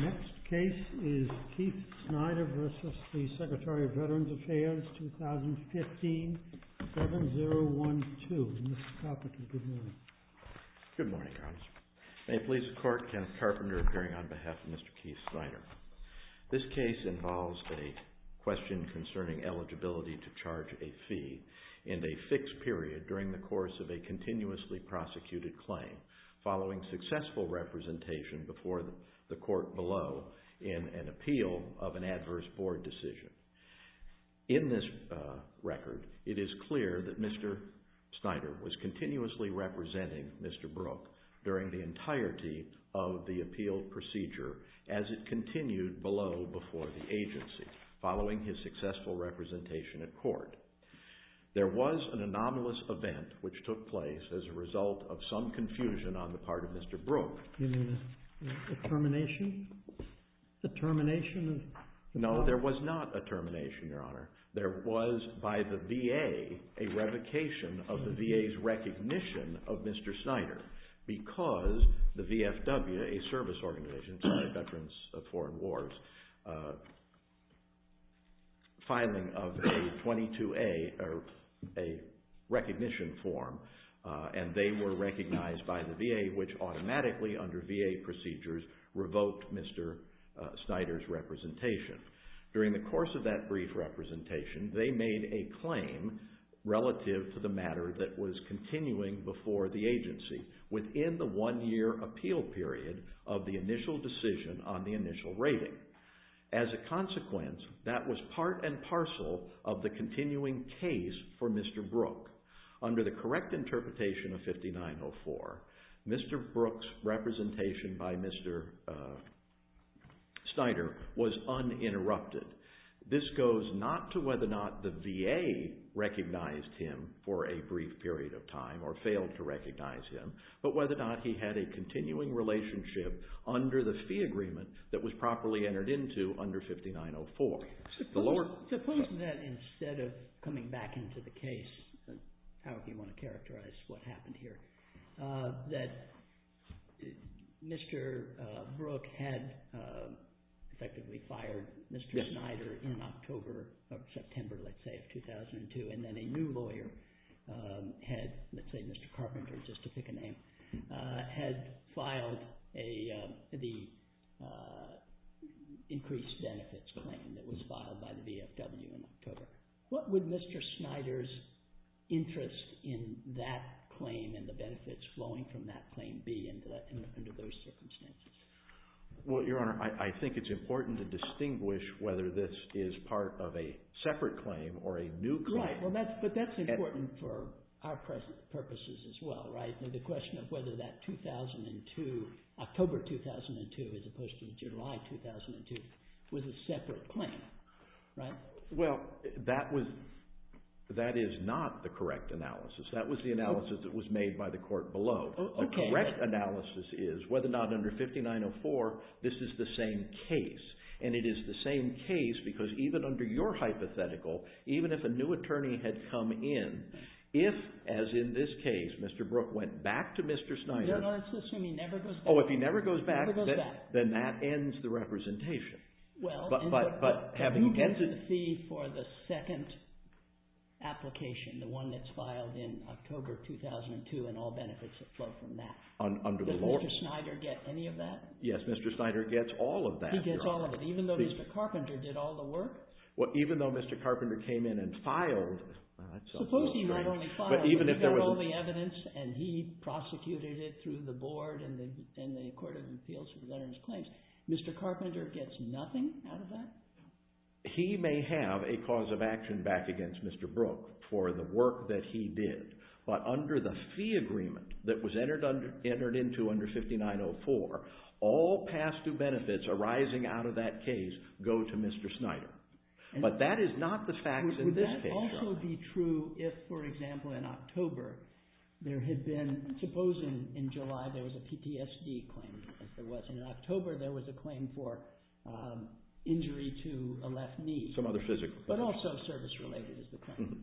Next case is Keith Snyder v. Secretary of Veterans Affairs, 2015, 7012. Mr. Carpenter, good morning. Good morning, Your Honor. May it please the court that this case involves a question concerning eligibility to charge a fee and a fixed period during the course of a continuously prosecuted claim following successful representation before the court below in an appeal of an adverse board decision. In this record, it is clear that Mr. Snyder was continuously representing Mr. Brooke during the entirety of the appeal procedure as it continued below before the agency following his successful representation at court. There was an anomalous event which took place as a result of some confusion on the part of Mr. Brooke. You mean a termination? A termination? No, there was not a termination, Your Honor. There was, by the VA, a revocation of the VA's recognition of Mr. Snyder because the VFW, a service organization, sorry, Veterans of Foreign Wars, filing of a 22A, or a recognition form, and they were recognized by the VA, which automatically under VA procedures revoked Mr. Snyder's representation. During the course of that brief representation, they made a claim relative to the matter that was continuing before the agency within the one-year appeal period of the initial decision on the initial rating. As a consequence, that was part and parcel of the continuing case for Mr. Brooke. Under the correct interpretation of 5904, Mr. Brooke's representation by Mr. Snyder was uninterrupted. This goes not to whether or not the VA recognized him for a brief period of time or failed to recognize him, but whether or not he had a continuing relationship under the fee agreement that was properly entered into under 5904. Supposing that instead of coming back into the case, however you want to characterize what happened here, that Mr. Brooke had effectively fired Mr. Snyder in October or September, let's say, of 2002, and then a new lawyer had, let's say Mr. Carpenter, just to pick a name, had filed the increased benefits claim that was filed by the VFW in October. What would Mr. Snyder's interest in that claim and the benefits flowing from that claim be under those circumstances? Well, Your Honor, I think it's important to distinguish whether this is part of a separate claim or a new claim. Right, but that's important for our purposes as well, right? The question of whether that October 2002 as opposed to July 2002 was a separate claim, right? Well, that is not the correct analysis. That was the analysis that was made by the court below. The correct analysis is whether or not under 5904 this is the same case. And it is the same case because even under your hypothetical, even if a new attorney had come in, if, as in this case, Mr. Brooke went back to Mr. Snyder... Your Honor, let's assume he never goes back. Oh, if he never goes back... Never goes back. ...then that ends the representation. Well... But having... ...the second application, the one that's filed in October 2002 and all benefits that flow from that. Under the law... Does Mr. Snyder get any of that? Yes, Mr. Snyder gets all of that, Your Honor. He gets all of it, even though Mr. Carpenter did all the work? Well, even though Mr. Carpenter came in and filed... Suppose he not only filed, but he got all the evidence and he prosecuted it through the board and the Court of Appeals for the Veterans' Claims. Mr. Carpenter gets nothing out of that? He may have a cause of action back against Mr. Brooke for the work that he did, but under the fee agreement that was entered into under 5904, all past due benefits arising out of that case go to Mr. Snyder. But that is not the facts in this case, Your Honor. Would that also be true if, for example, in October, there had been... Supposing in July there was a PTSD claim, if there was. In October, there was a claim for injury to a left knee. Some other physical... But also service-related is the claim.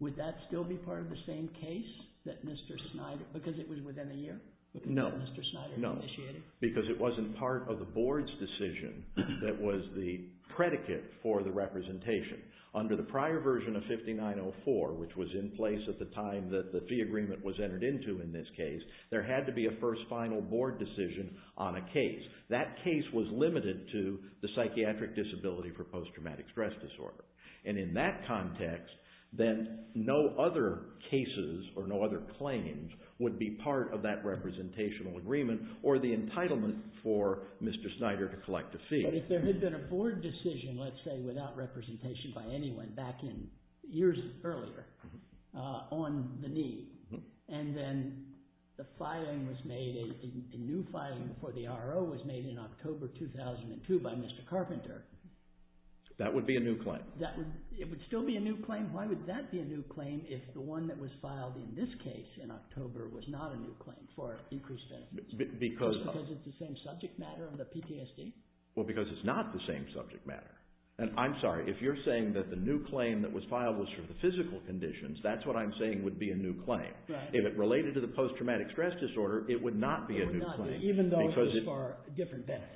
Would that still be part of the same case that Mr. Snyder... Because it was within a year? No. Mr. Snyder initiated? No, because it wasn't part of the board's decision that was the predicate for the representation. Under the prior version of 5904, which was in place at the time that the fee agreement was entered into in this case, there had to be a first final board decision on a case. That case was limited to the psychiatric disability for post-traumatic stress disorder. And in that context, then no other cases or no other claims would be part of that representational agreement or the entitlement for Mr. Snyder to collect a fee. But if there had been a board decision, let's say, without representation by anyone back in years earlier on the knee, and then the filing was made, a new filing for the RO was made in October 2002 by Mr. Carpenter... That would be a new claim. That would... It would still be a new claim? Why would that be a new claim if the one that was filed in this case in October was not a new claim for increased benefits? Because... Just because it's the same subject matter of the PTSD? Well, because it's not the same subject matter. And I'm sorry, if you're saying that the new claim that was filed was for the physical conditions, that's what I'm saying would be a new claim. Right. If it related to the post-traumatic stress disorder, it would not be a new claim. It would not, even though it was for different benefits.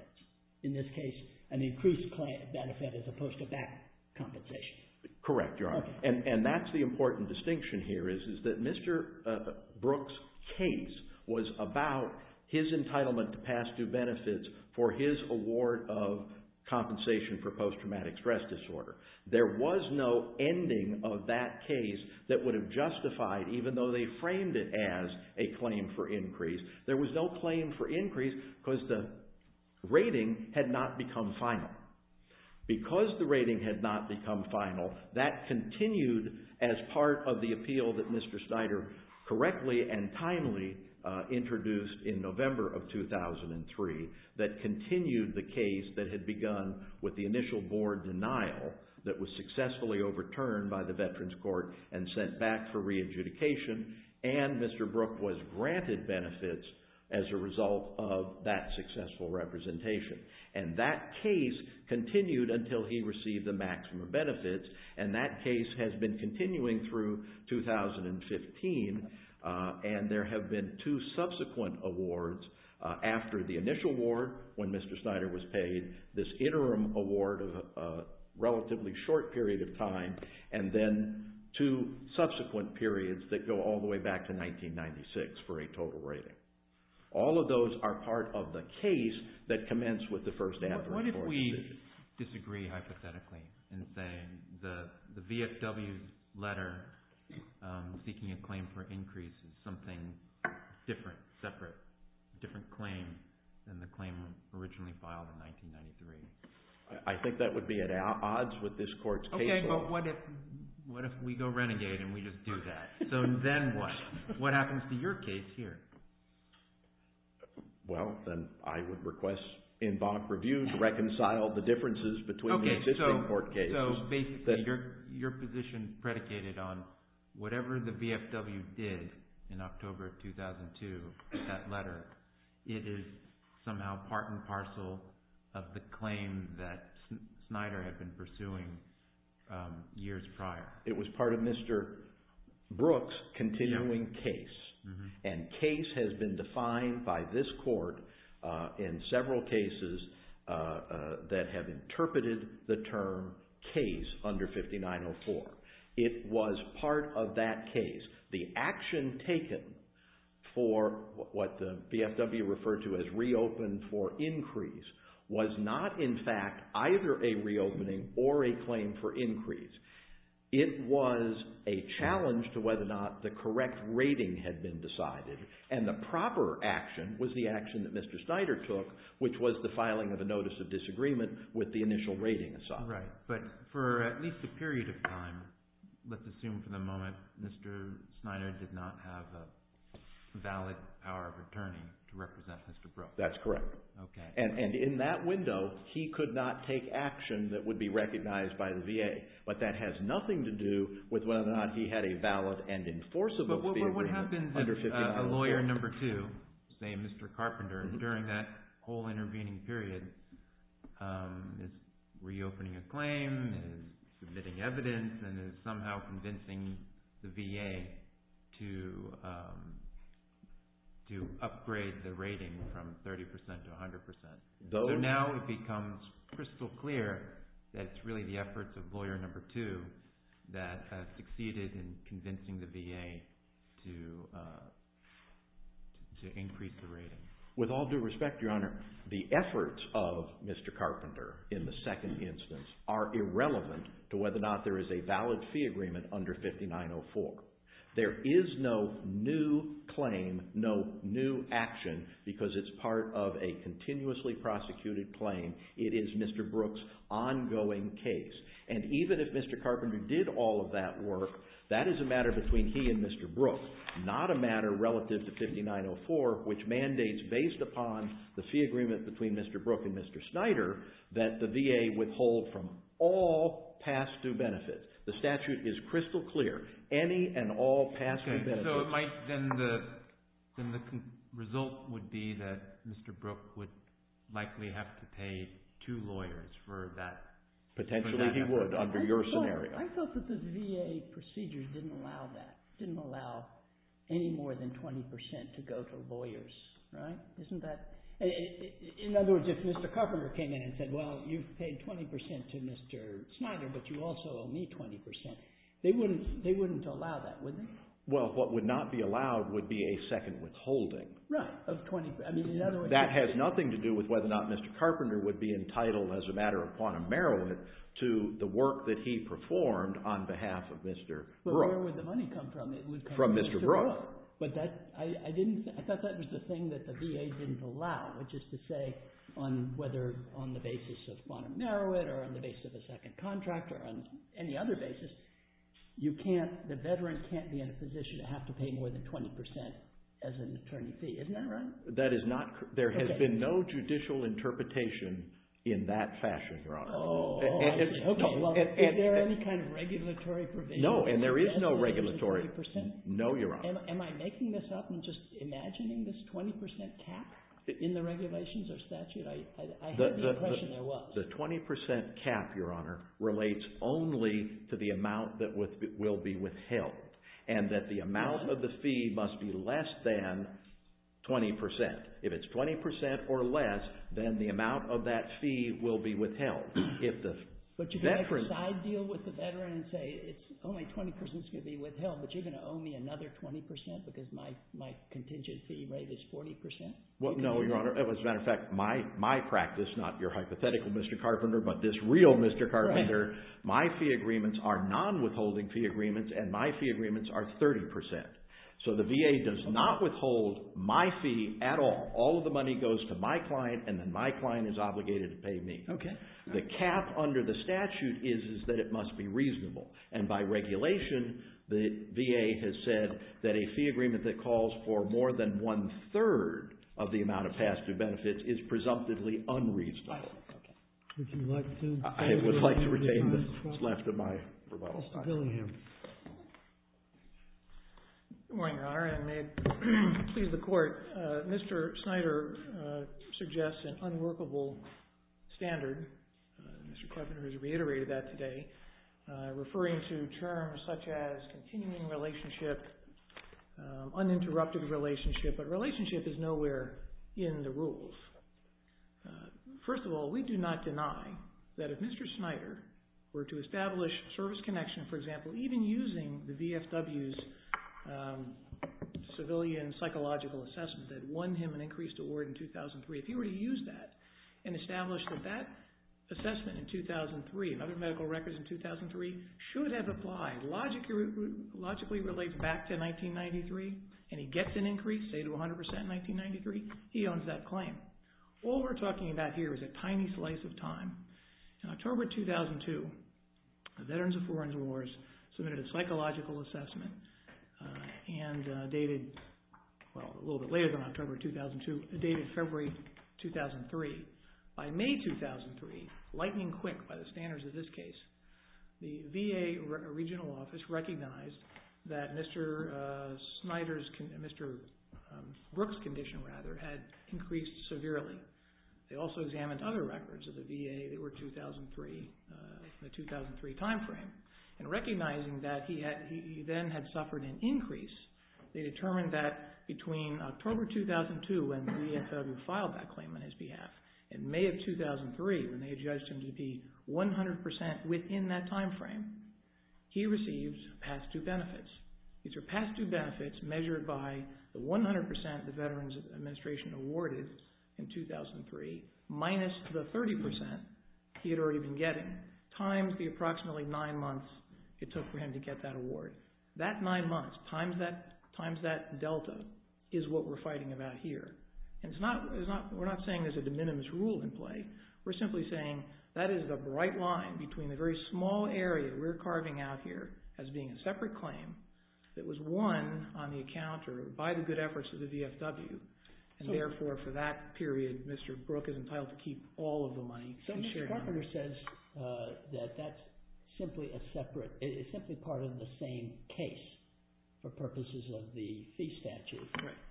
In this case, an increased benefit as opposed to back compensation. Correct, Your Honor. Okay. And that's the important distinction here is that Mr. Brook's case was about his entitlement to pass due benefits for his award of compensation for post-traumatic stress disorder. There was no ending of that case that would have justified, even though they framed it as a claim for increase, there was no claim for increase because the rating had not become final. Because the rating had not become final, that continued as part of the appeal that Mr. Brook filed in 2003 that continued the case that had begun with the initial board denial that was successfully overturned by the Veterans Court and sent back for re-adjudication. And Mr. Brook was granted benefits as a result of that successful representation. And that case continued until he received the maximum benefits. And that case has been continuing through 2015. And there have been two subsequent awards after the initial award when Mr. Snyder was paid, this interim award of a relatively short period of time, and then two subsequent periods that go all the way back to 1996 for a total rating. All of those are part of the case that commenced with the first adverse court decision. So you disagree hypothetically in saying the VFW letter seeking a claim for increase is something different, separate, different claim than the claim originally filed in 1993? I think that would be at odds with this court's case law. Okay, but what if we go renegade and we just do that? So then what? What happens to your case here? Well, then I would request en banc review to reconcile the differences between the existing court cases. Okay, so basically your position predicated on whatever the VFW did in October 2002, that letter, it is somehow part and parcel of the claim that Snyder had been pursuing years prior. It was part of Mr. Brooks' continuing case, and case has been defined by this court in several cases that have interpreted the term case under 5904. It was part of that case. The action taken for what the VFW referred to as reopen for increase was not in fact either a reopening or a claim for increase. It was a challenge to whether or not the correct rating had been decided, and the proper action was the action that Mr. Snyder took, which was the filing of a notice of disagreement with the initial rating assignment. Right, but for at least a period of time, let's assume for the moment Mr. Snyder did not have a valid power of attorney to represent Mr. Brooks. That's correct, and in that window, he could not take action that would be recognized by the VA, but that has nothing to do with whether or not he had a valid and enforceable fee agreement under 5904. But what happens if a lawyer number two, say Mr. Carpenter, during that whole intervening period is reopening a claim, is submitting evidence, and is somehow convincing the VA to upgrade the rating from 30% to 100%. So now it becomes crystal clear that it's really the efforts of lawyer number two that has succeeded in convincing the VA to increase the rating. With all due respect, Your Honor, the efforts of Mr. Carpenter in the second instance are There is no new claim, no new action, because it's part of a continuously prosecuted claim. It is Mr. Brooks' ongoing case. And even if Mr. Carpenter did all of that work, that is a matter between he and Mr. Brooks, not a matter relative to 5904, which mandates, based upon the fee agreement between Mr. Brooks and Mr. Snyder, that the VA withhold from all past due benefits. The statute is crystal clear. Any and all past due benefits. Okay, so it might, then the result would be that Mr. Brooks would likely have to pay two lawyers for that. Potentially he would, under your scenario. I thought that the VA procedures didn't allow that, didn't allow any more than 20% to go to lawyers. Right? Isn't that, in other words, if Mr. Carpenter came in and said, well, you've paid 20% to Mr. Snyder, but you also owe me 20%. They wouldn't allow that, would they? Well, what would not be allowed would be a second withholding. Right, of 20%. That has nothing to do with whether or not Mr. Carpenter would be entitled, as a matter of quantum merit, to the work that he performed on behalf of Mr. Brooks. But where would the money come from? From Mr. Brooks. But that, I didn't, I thought that was the thing that the VA didn't allow, which is to narrow it, or on the basis of a second contract, or on any other basis, you can't, the veteran can't be in a position to have to pay more than 20% as an attorney fee. Isn't that right? That is not, there has been no judicial interpretation in that fashion, Your Honor. Oh, I was hoping. Is there any kind of regulatory provision? No, and there is no regulatory. No, Your Honor. Am I making this up and just imagining this 20% cap in the regulations or statute? I had the impression there was. Well, the 20% cap, Your Honor, relates only to the amount that will be withheld. And that the amount of the fee must be less than 20%. If it's 20% or less, then the amount of that fee will be withheld. But you can make a side deal with the veteran and say it's only 20% that's going to be withheld, but you're going to owe me another 20% because my contingent fee rate is 40%? Well, no, Your Honor. As a matter of fact, my practice, not your hypothetical, Mr. Carpenter, but this real Mr. Carpenter, my fee agreements are non-withholding fee agreements and my fee agreements are 30%. So the VA does not withhold my fee at all. All of the money goes to my client and then my client is obligated to pay me. And by regulation, the VA has said that a fee agreement that calls for more than one-third of the amount of past due benefits is presumptively unreasonable. I would like to retain what's left of my rebuttal. Mr. Billingham. Good morning, Your Honor, and may it please the Court. Mr. Snyder suggests an unworkable standard. Mr. Carpenter has reiterated that today. Referring to terms such as continuing relationship, uninterrupted relationship, but relationship is nowhere in the rules. First of all, we do not deny that if Mr. Snyder were to establish service connection, for example, even using the VFW's civilian psychological assessment that won him an increased award in 2003, if he were to use that and establish that that assessment in 2003 and other medical records in 2003 should have applied logically relates back to 1993 and he gets an increase, say, to 100% in 1993, he owns that claim. All we're talking about here is a tiny slice of time. In October 2002, Veterans of Foreign Wars submitted a psychological assessment and dated, well, a little bit later than October 2002, dated February 2003. By May 2003, lightning quick by the standards of this case, the VA regional office recognized that Mr. Snyder's condition, Mr. Brooks' condition, rather, had increased severely. They also examined other records of the VA that were 2003, the 2003 time frame, and recognizing that he then had suffered an increase, they determined that between October 2002 and the VFW filed that claim on his behalf, in May of 2003 when they judged him to be 100% within that time frame, he received past due benefits. These are past due benefits measured by the 100% the Veterans Administration awarded in 2003 minus the 30% he had already been getting times the approximately nine months it took for him to get that award. That nine months times that delta is what we're fighting about here. We're not saying there's a de minimis rule in play. We're simply saying that is the bright line between the very small area we're carving out here as being a separate claim that was won on the account or by the good efforts of the VFW. Therefore, for that period, Mr. Brooks is entitled to keep all of the money. So Mr. Carpenter says that that's simply a separate, it's simply part of the same case for purposes of the fee statute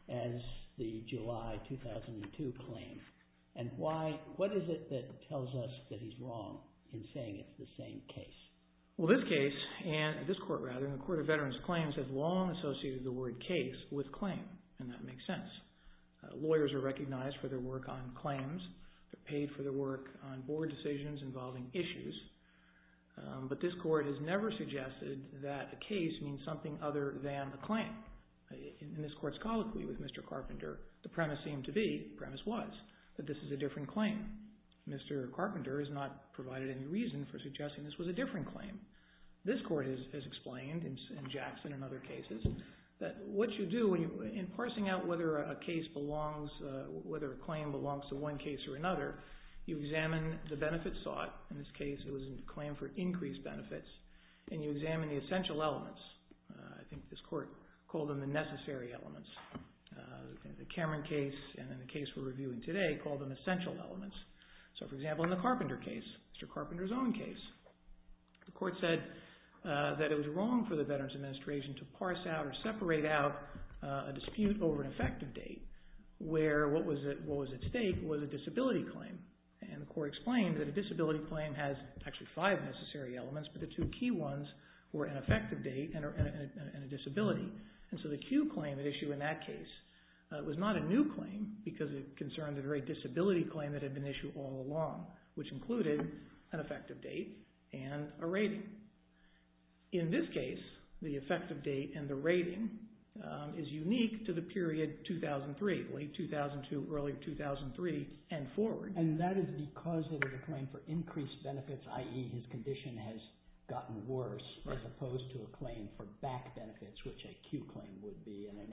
as the July 2002 claim. What is it that tells us that he's wrong in saying it's the same case? Well, this case, this court rather, the Court of Veterans Claims has long associated the word case with claim, and that makes sense. Lawyers are recognized for their work on claims. They're paid for their work on board decisions involving issues. But this court has never suggested that a case means something other than a claim. In this court's colloquy with Mr. Carpenter, the premise seemed to be, the premise was, that this is a different claim. Mr. Carpenter has not provided any reason for suggesting this was a different claim. This court has explained in Jackson and other cases that what you do in parsing out whether a case belongs, whether a claim belongs to one case or another, you examine the benefits sought. In this case, it was a claim for increased benefits, and you examine the essential elements. I think this court called them the necessary elements. In the Cameron case and in the case we're reviewing today, called them essential elements. So, for example, in the Carpenter case, Mr. Carpenter's own case, the court said that it was wrong for the Veterans Administration to parse out or separate out a dispute over an effective date, where what was at stake was a disability claim. And the court explained that a disability claim has actually five necessary elements, but the two key ones were an effective date and a disability. And so the cue claim at issue in that case was not a new claim because it concerned a very disability claim that had been issued all along, which included an effective date and a rating. In this case, the effective date and the rating is unique to the period 2003, late 2002, early 2003, and forward. And that is because it is a claim for increased benefits, i.e. his condition has gotten worse, as opposed to a claim for back benefits, which a cue claim would be, and a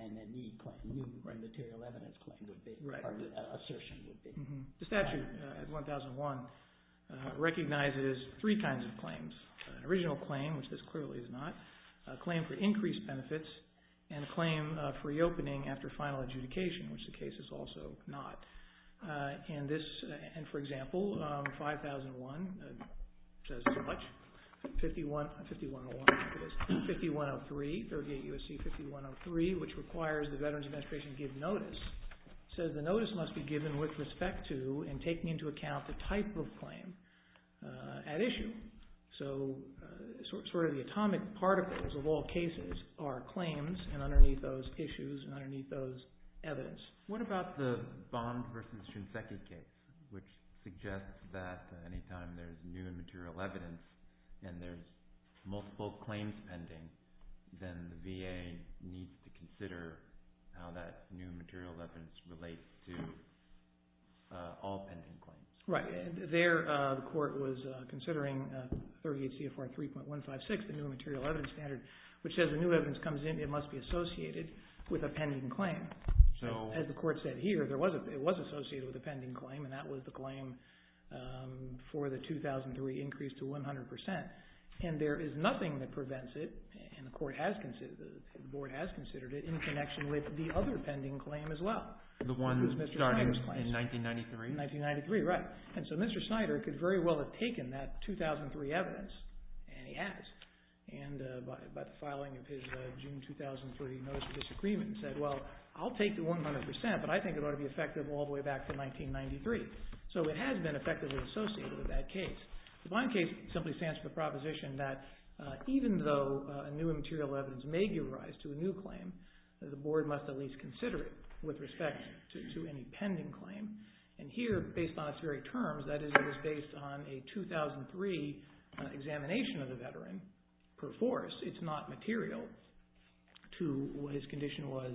new material evidence claim would be, or assertion would be. The statute at 1001 recognizes three kinds of claims, an original claim, which this clearly is not, a claim for increased benefits, and a claim for reopening after final adjudication, which the case is also not. And for example, 5001 says as much. 5103, 38 U.S.C. 5103, which requires the Veterans Administration to give notice, says the notice must be given with respect to and taking into account the type of claim at issue. So sort of the atomic particles of all cases are claims, and underneath those issues and underneath those evidence. What about the Bond v. Shinseki case, which suggests that any time there is new material evidence and there is multiple claims pending, then the VA needs to consider how that new material evidence relates to all pending claims. Right. There the court was considering 38 CFR 3.156, the new material evidence standard, which says when new evidence comes in, it must be associated with a pending claim. So as the court said here, it was associated with a pending claim, and that was the claim for the 2003 increase to 100%. And there is nothing that prevents it, and the board has considered it, in connection with the other pending claim as well. The one starting in 1993? 1993, right. And so Mr. Snyder could very well have taken that 2003 evidence, and he has. And by the filing of his June 2003 Notice of Disagreement said, well, I'll take the 100%, but I think it ought to be effective all the way back to 1993. So it has been effectively associated with that case. The Vine case simply stands for the proposition that even though a new material evidence may give rise to a new claim, the board must at least consider it with respect to any pending claim. And here, based on its very terms, that is, it was based on a 2003 examination of the veteran per force. It's not material to what his condition was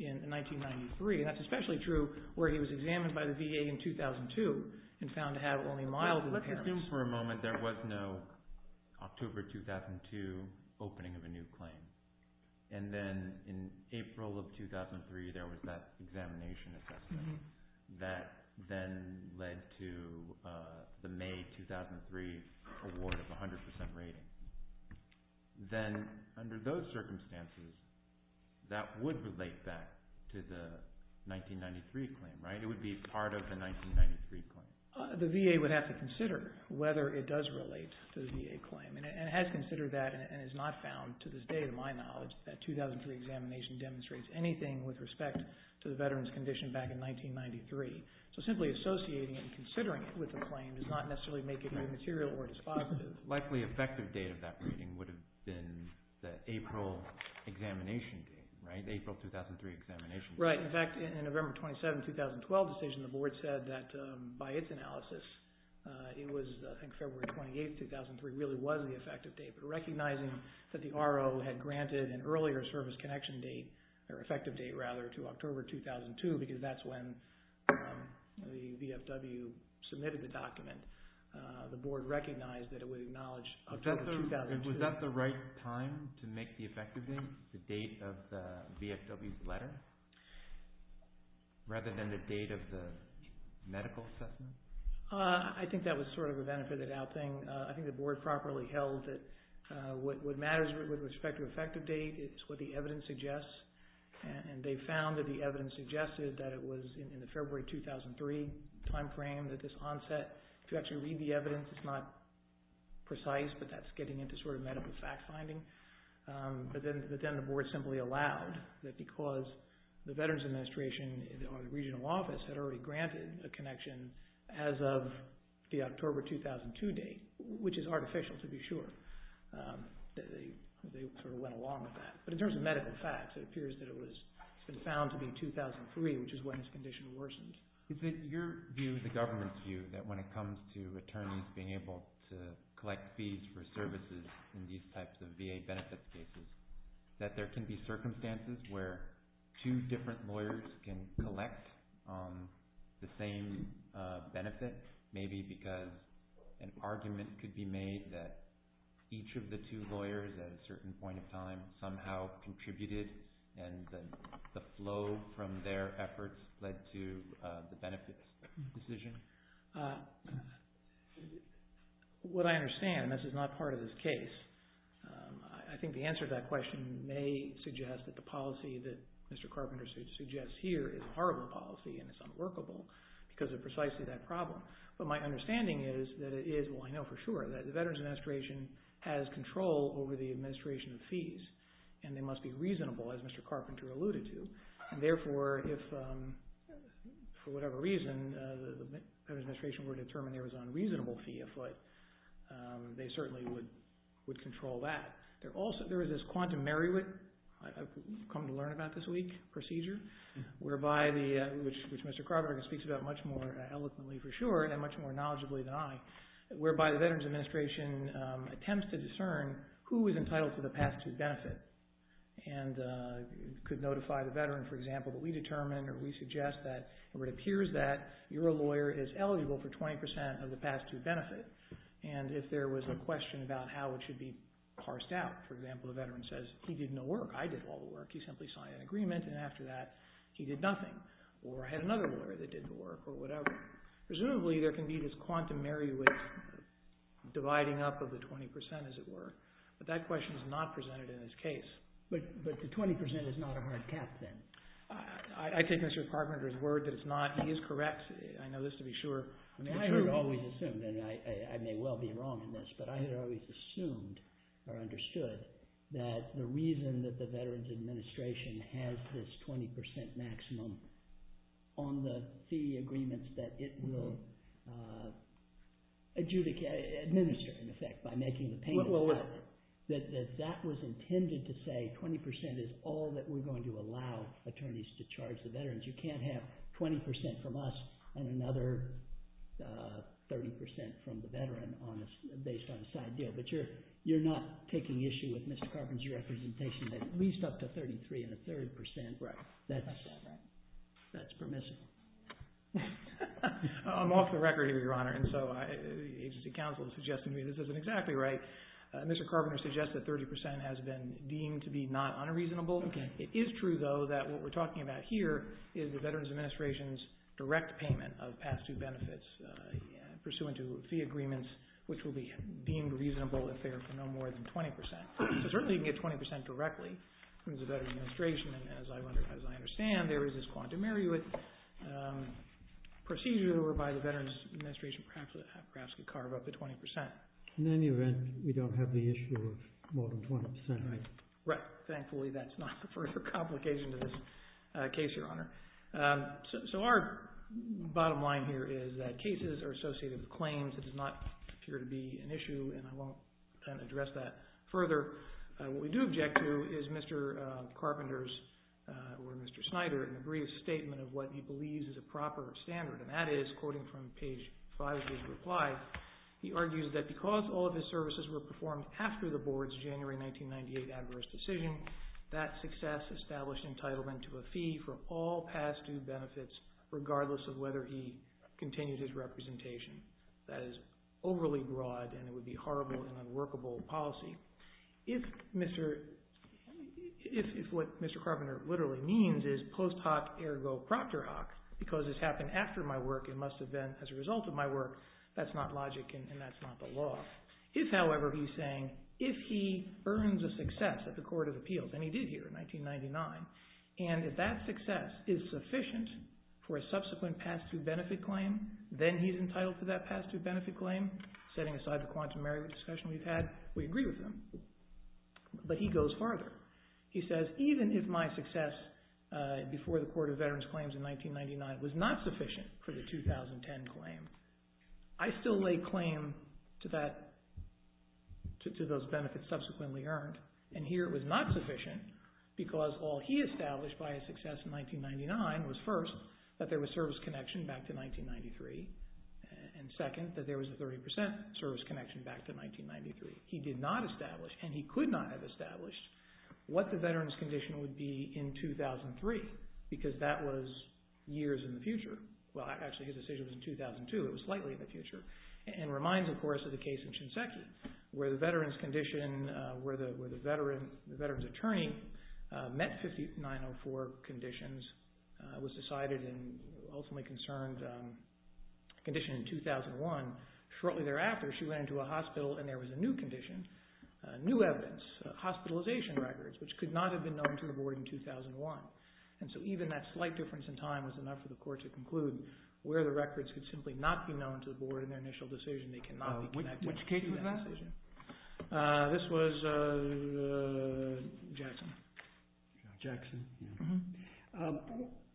in 1993. And that's especially true where he was examined by the VA in 2002 and found to have only mild impairments. Let's assume for a moment there was no October 2002 opening of a new claim, and then in April of 2003 there was that examination assessment that then led to the May 2003 award of 100% rating. Then under those circumstances, that would relate back to the 1993 claim, right? It would be part of the 1993 claim. The VA would have to consider whether it does relate to the VA claim, and it has considered that and is not found to this day, to my knowledge, that 2003 examination demonstrates anything with respect to the veteran's condition back in 1993. So simply associating it and considering it with the claim does not necessarily make it new material or it is positive. The likely effective date of that rating would have been the April examination date, right? The April 2003 examination date. Right. In fact, in a November 27, 2012 decision, the Board said that by its analysis, it was I think February 28, 2003 really was the effective date. But recognizing that the RO had granted an earlier service connection date, or effective date rather, to October 2002 because that's when the VFW submitted the document, the Board recognized that it would acknowledge October 2002. Was that the right time to make the effective date, the date of the VFW's letter, rather than the date of the medical assessment? I think that was sort of a benefited out thing. I think the Board properly held that what matters with respect to effective date is what the evidence suggests, and they found that the evidence suggested that it was in the February 2003 timeframe that this onset, if you actually read the evidence, it's not precise, but that's getting into sort of medical fact finding. But then the Board simply allowed that because the Veterans Administration or the regional office had already granted a connection as of the October 2002 date, which is artificial to be sure, they sort of went along with that. But in terms of medical facts, it appears that it was found to be 2003, which is when its condition worsened. Is it your view, the government's view, that when it comes to attorneys being able to collect fees for services in these types of VA benefits cases, that there can be circumstances where two different lawyers can collect the same benefit, maybe because an argument could be made that each of the two lawyers at a certain point in time somehow contributed and the flow from their efforts led to the benefits decision? What I understand, and this is not part of this case, I think the answer to that question may suggest that the policy that Mr. Carpenter suggests here is a horrible policy and it's unworkable because of precisely that problem. But my understanding is that it is, well I know for sure, that the Veterans Administration has control over the administration of fees and they must be reasonable, as Mr. Carpenter alluded to, and therefore if for whatever reason the Veterans Administration were determined there was an unreasonable fee afoot, they certainly would control that. There is this quantum Merriwick, I've come to learn about this week, procedure, which Mr. Carpenter speaks about much more eloquently for sure and much more knowledgably than I, whereby the Veterans Administration attempts to discern who is entitled to the past due benefit and could notify the veteran, for example, that we determine or we suggest that or it appears that your lawyer is eligible for 20% of the past due benefit and if there was a question about how it should be parsed out, for example the veteran says he did no work, I did all the work, he simply signed an agreement and after that he did nothing or I had another lawyer that did the work or whatever. Presumably there can be this quantum Merriwick dividing up of the 20% as it were, but that question is not presented in this case. But the 20% is not a hard cap then? I take Mr. Carpenter's word that it's not, he is correct, I know this to be sure. I had always assumed, and I may well be wrong in this, but I had always assumed or understood that the reason that the Veterans Administration has this 20% maximum on the fee agreements that it will administer in effect by making the payment, that that was intended to say 20% is all that we're going to allow attorneys to charge the veterans. You can't have 20% from us and another 30% from the veteran based on a side deal. But you're not taking issue with Mr. Carpenter's representation that at least up to 33 and a third percent, that's permissible. I'm off the record here, Your Honor, and so the agency counsel is suggesting to me this isn't exactly right. Mr. Carpenter suggests that 30% has been deemed to be not unreasonable. It is true, though, that what we're talking about here is the Veterans Administration's direct payment of past due benefits pursuant to fee agreements which will be deemed reasonable if they are for no more than 20%. So certainly you can get 20% directly from the Veterans Administration and as I understand, there is this quantum merriment procedure whereby the Veterans Administration perhaps could carve up to 20%. In any event, we don't have the issue of more than 20%, right? Right. Thankfully, that's not the further complication to this case, Your Honor. So our bottom line here is that cases are associated with claims. It does not appear to be an issue and I won't address that further. What we do object to is Mr. Carpenter's or Mr. Snyder's brief statement of what he believes is a proper standard and that is, quoting from page 5 of his reply, he argues that because all of his services were performed after the Board's January 1998 adverse decision, that success established entitlement to a fee for all past due benefits regardless of whether he continues his representation. That is overly broad and it would be horrible and unworkable policy. If what Mr. Carpenter literally means is post hoc ergo proctor hoc because this happened after my work and must have been as a result of my work, that's not logic and that's not the law. If, however, he's saying if he earns a success at the Court of Appeals, and he did here in 1999, and if that success is sufficient for a subsequent past due benefit claim, then he's entitled to that past due benefit claim, setting aside the quantum area of discussion we've had, we agree with him. But he goes farther. He says even if my success before the Court of Veterans Claims in 1999 was not sufficient for the 2010 claim, I still lay claim to those benefits subsequently earned and here it was not sufficient because all he established by his success in 1999 was first that there was service connection back to 1993 and second that there was a 30% service connection back to 1993. He did not establish and he could not have established what the veterans condition would be in 2003 because that was years in the future. Well, actually his decision was in 2002. It was slightly in the future and reminds, of course, of the case in Shinseki where the veterans condition, where the veterans attorney met 5904 conditions, was decided and ultimately concerned condition in 2001. Shortly thereafter, she went into a hospital and there was a new condition, new evidence, hospitalization records, which could not have been known to the board in 2001. So even that slight difference in time was enough for the court to conclude where the records could simply not be known to the board in their initial decision. Which case was that? This was Jackson.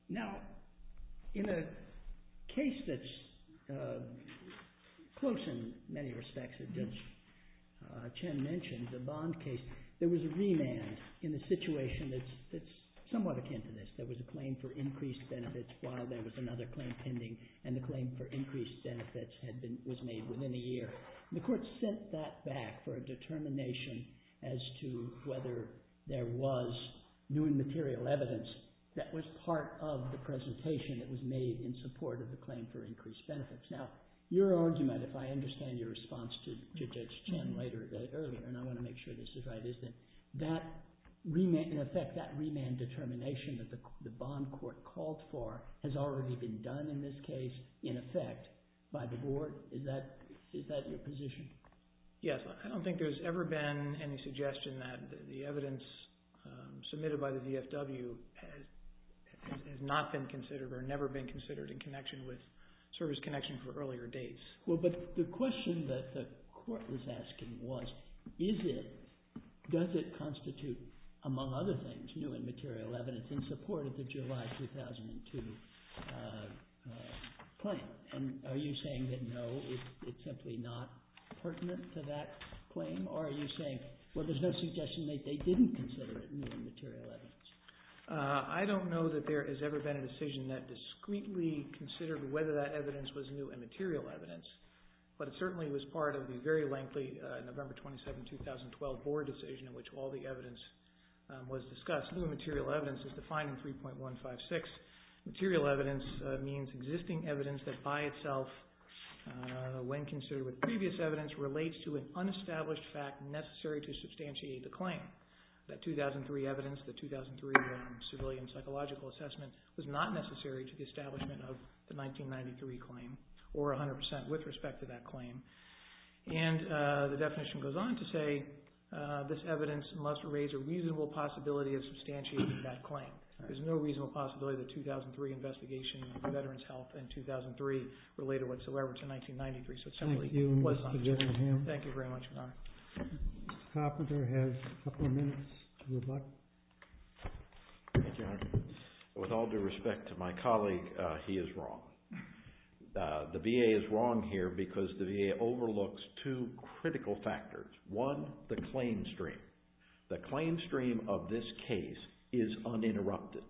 Now, in a case that's close in many respects, as Chen mentioned, the Bond case, there was a remand in the situation that's somewhat akin to this. There was a claim for increased benefits while there was another claim pending and the claim for increased benefits was made within a year. The court sent that back for a determination as to whether there was new and material evidence that was part of the presentation that was made in support of the claim for increased benefits. Now, your argument, if I understand your response to Judge Chen earlier, and I want to make sure this is right, is that in effect that remand determination that the Bond court called for has already been done in this case, in effect, by the board? Is that your position? Yes, I don't think there's ever been any suggestion that the evidence submitted by the VFW has not been considered or never been considered in connection with service connection for earlier dates. Well, but the question that the court was asking was, does it constitute, among other things, new and material evidence in support of the July 2002 claim? And are you saying that no, it's simply not pertinent to that claim? Or are you saying, well, there's no suggestion that they didn't consider it new and material evidence? I don't know that there has ever been a decision that discreetly considered whether that evidence was new and material evidence, but it certainly was part of the very lengthy November 27, 2012, board decision in which all the evidence was discussed. New and material evidence is defined in 3.156. Material evidence means existing evidence that by itself, when considered with previous evidence, relates to an unestablished fact necessary to substantiate the claim. That 2003 evidence, the 2003 civilian psychological assessment, was not necessary to the establishment of the 1993 claim or 100% with respect to that claim. And the definition goes on to say, this evidence must raise a reasonable possibility of substantiating that claim. There's no reasonable possibility that the 2003 investigation of veterans' health in 2003 related whatsoever to 1993. Thank you, Mr. Gillingham. Thank you very much, Your Honor. Mr. Hopper has a couple of minutes to rebut. Thank you, Your Honor. With all due respect to my colleague, he is wrong. The VA is wrong here because the VA overlooks two critical factors. One, the claim stream. The claim stream of this case is uninterrupted.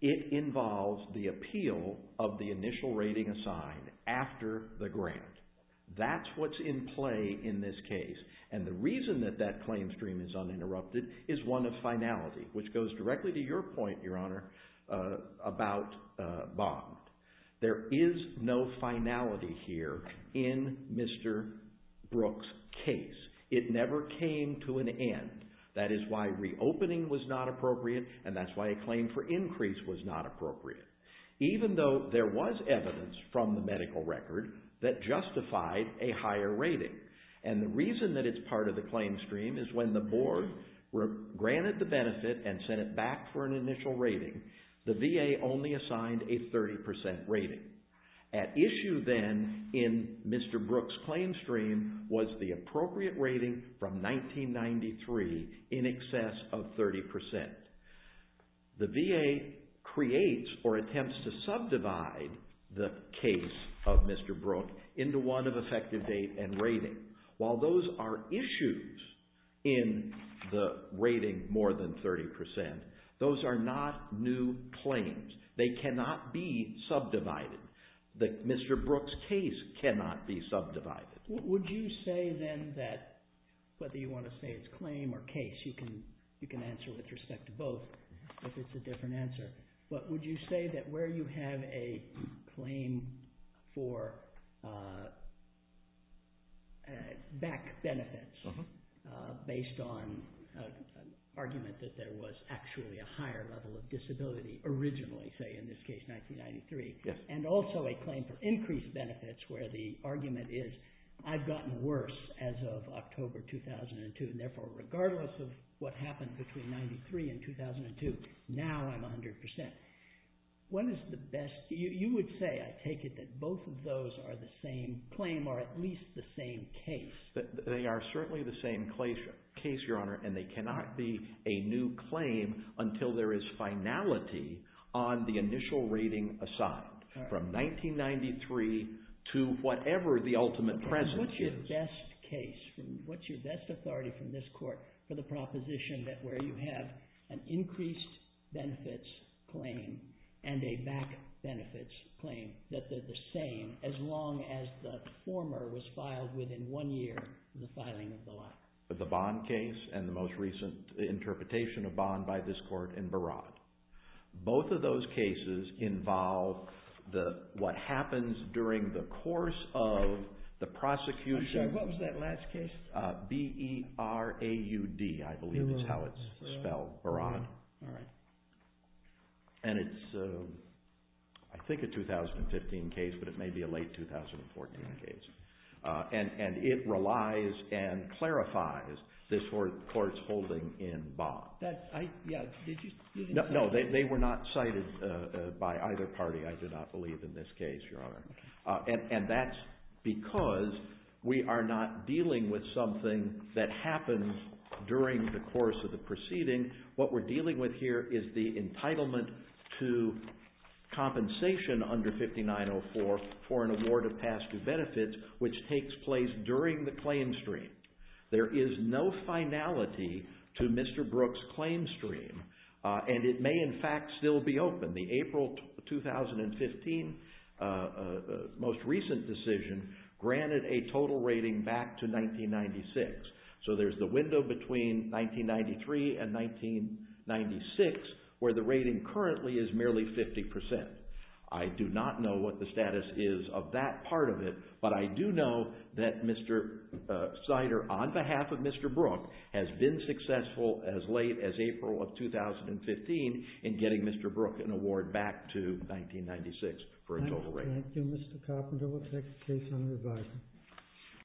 It involves the appeal of the initial rating assigned after the grant. That's what's in play in this case. And the reason that that claim stream is uninterrupted is one of finality, which goes directly to your point, Your Honor, about Bond. There is no finality here in Mr. Brook's case. It never came to an end. That is why reopening was not appropriate, and that's why a claim for increase was not appropriate, even though there was evidence from the medical record that justified a higher rating. And the reason that it's part of the claim stream is when the board granted the benefit and sent it back for an initial rating, the VA only assigned a 30% rating. At issue then in Mr. Brook's claim stream was the appropriate rating from 1993 in excess of 30%. The VA creates or attempts to subdivide the case of Mr. Brook into one of effective date and rating. While those are issues in the rating more than 30%, those are not new claims. They cannot be subdivided. Mr. Brook's case cannot be subdivided. Would you say then that whether you want to say it's claim or case, you can answer with respect to both if it's a different answer, but would you say that where you have a claim for back benefits based on an argument that there was actually a higher level of disability originally, say in this case 1993, and also a claim for increased benefits where the argument is I've gotten worse as of October 2002, and therefore regardless of what happened between 1993 and 2002, now I'm 100%. When is the best? You would say, I take it, that both of those are the same claim or at least the same case. They are certainly the same case, Your Honor, and they cannot be a new claim until there is finality on the initial rating assigned from 1993 to whatever the ultimate presence is. What's your best case? What's your best authority from this court for the proposition that where you have an increased benefits claim and a back benefits claim, as long as the former was filed within one year of the filing of the law? The Bond case and the most recent interpretation of Bond by this court in Barad. Both of those cases involve what happens during the course of the prosecution. I'm sorry, what was that last case? B-E-R-A-U-D, I believe is how it's spelled, Barad. All right. And it's, I think, a 2015 case, but it may be a late 2014 case. And it relies and clarifies this court's holding in Bond. No, they were not cited by either party, I do not believe, in this case, Your Honor. And that's because we are not dealing with something that happens during the course of the proceeding. What we're dealing with here is the entitlement to compensation under 5904 for an award of past due benefits, which takes place during the claim stream. There is no finality to Mr. Brooks' claim stream. And it may, in fact, still be open. The April 2015 most recent decision granted a total rating back to 1996. So there's the window between 1993 and 1996, where the rating currently is merely 50%. I do not know what the status is of that part of it, but I do know that Mr. Sider, on behalf of Mr. Brooks, has been successful as late as April of 2015 in getting Mr. Brooks an award back to 1996 for a total rating. Thank you. Thank you, Mr. Carpenter. We'll take the case under review.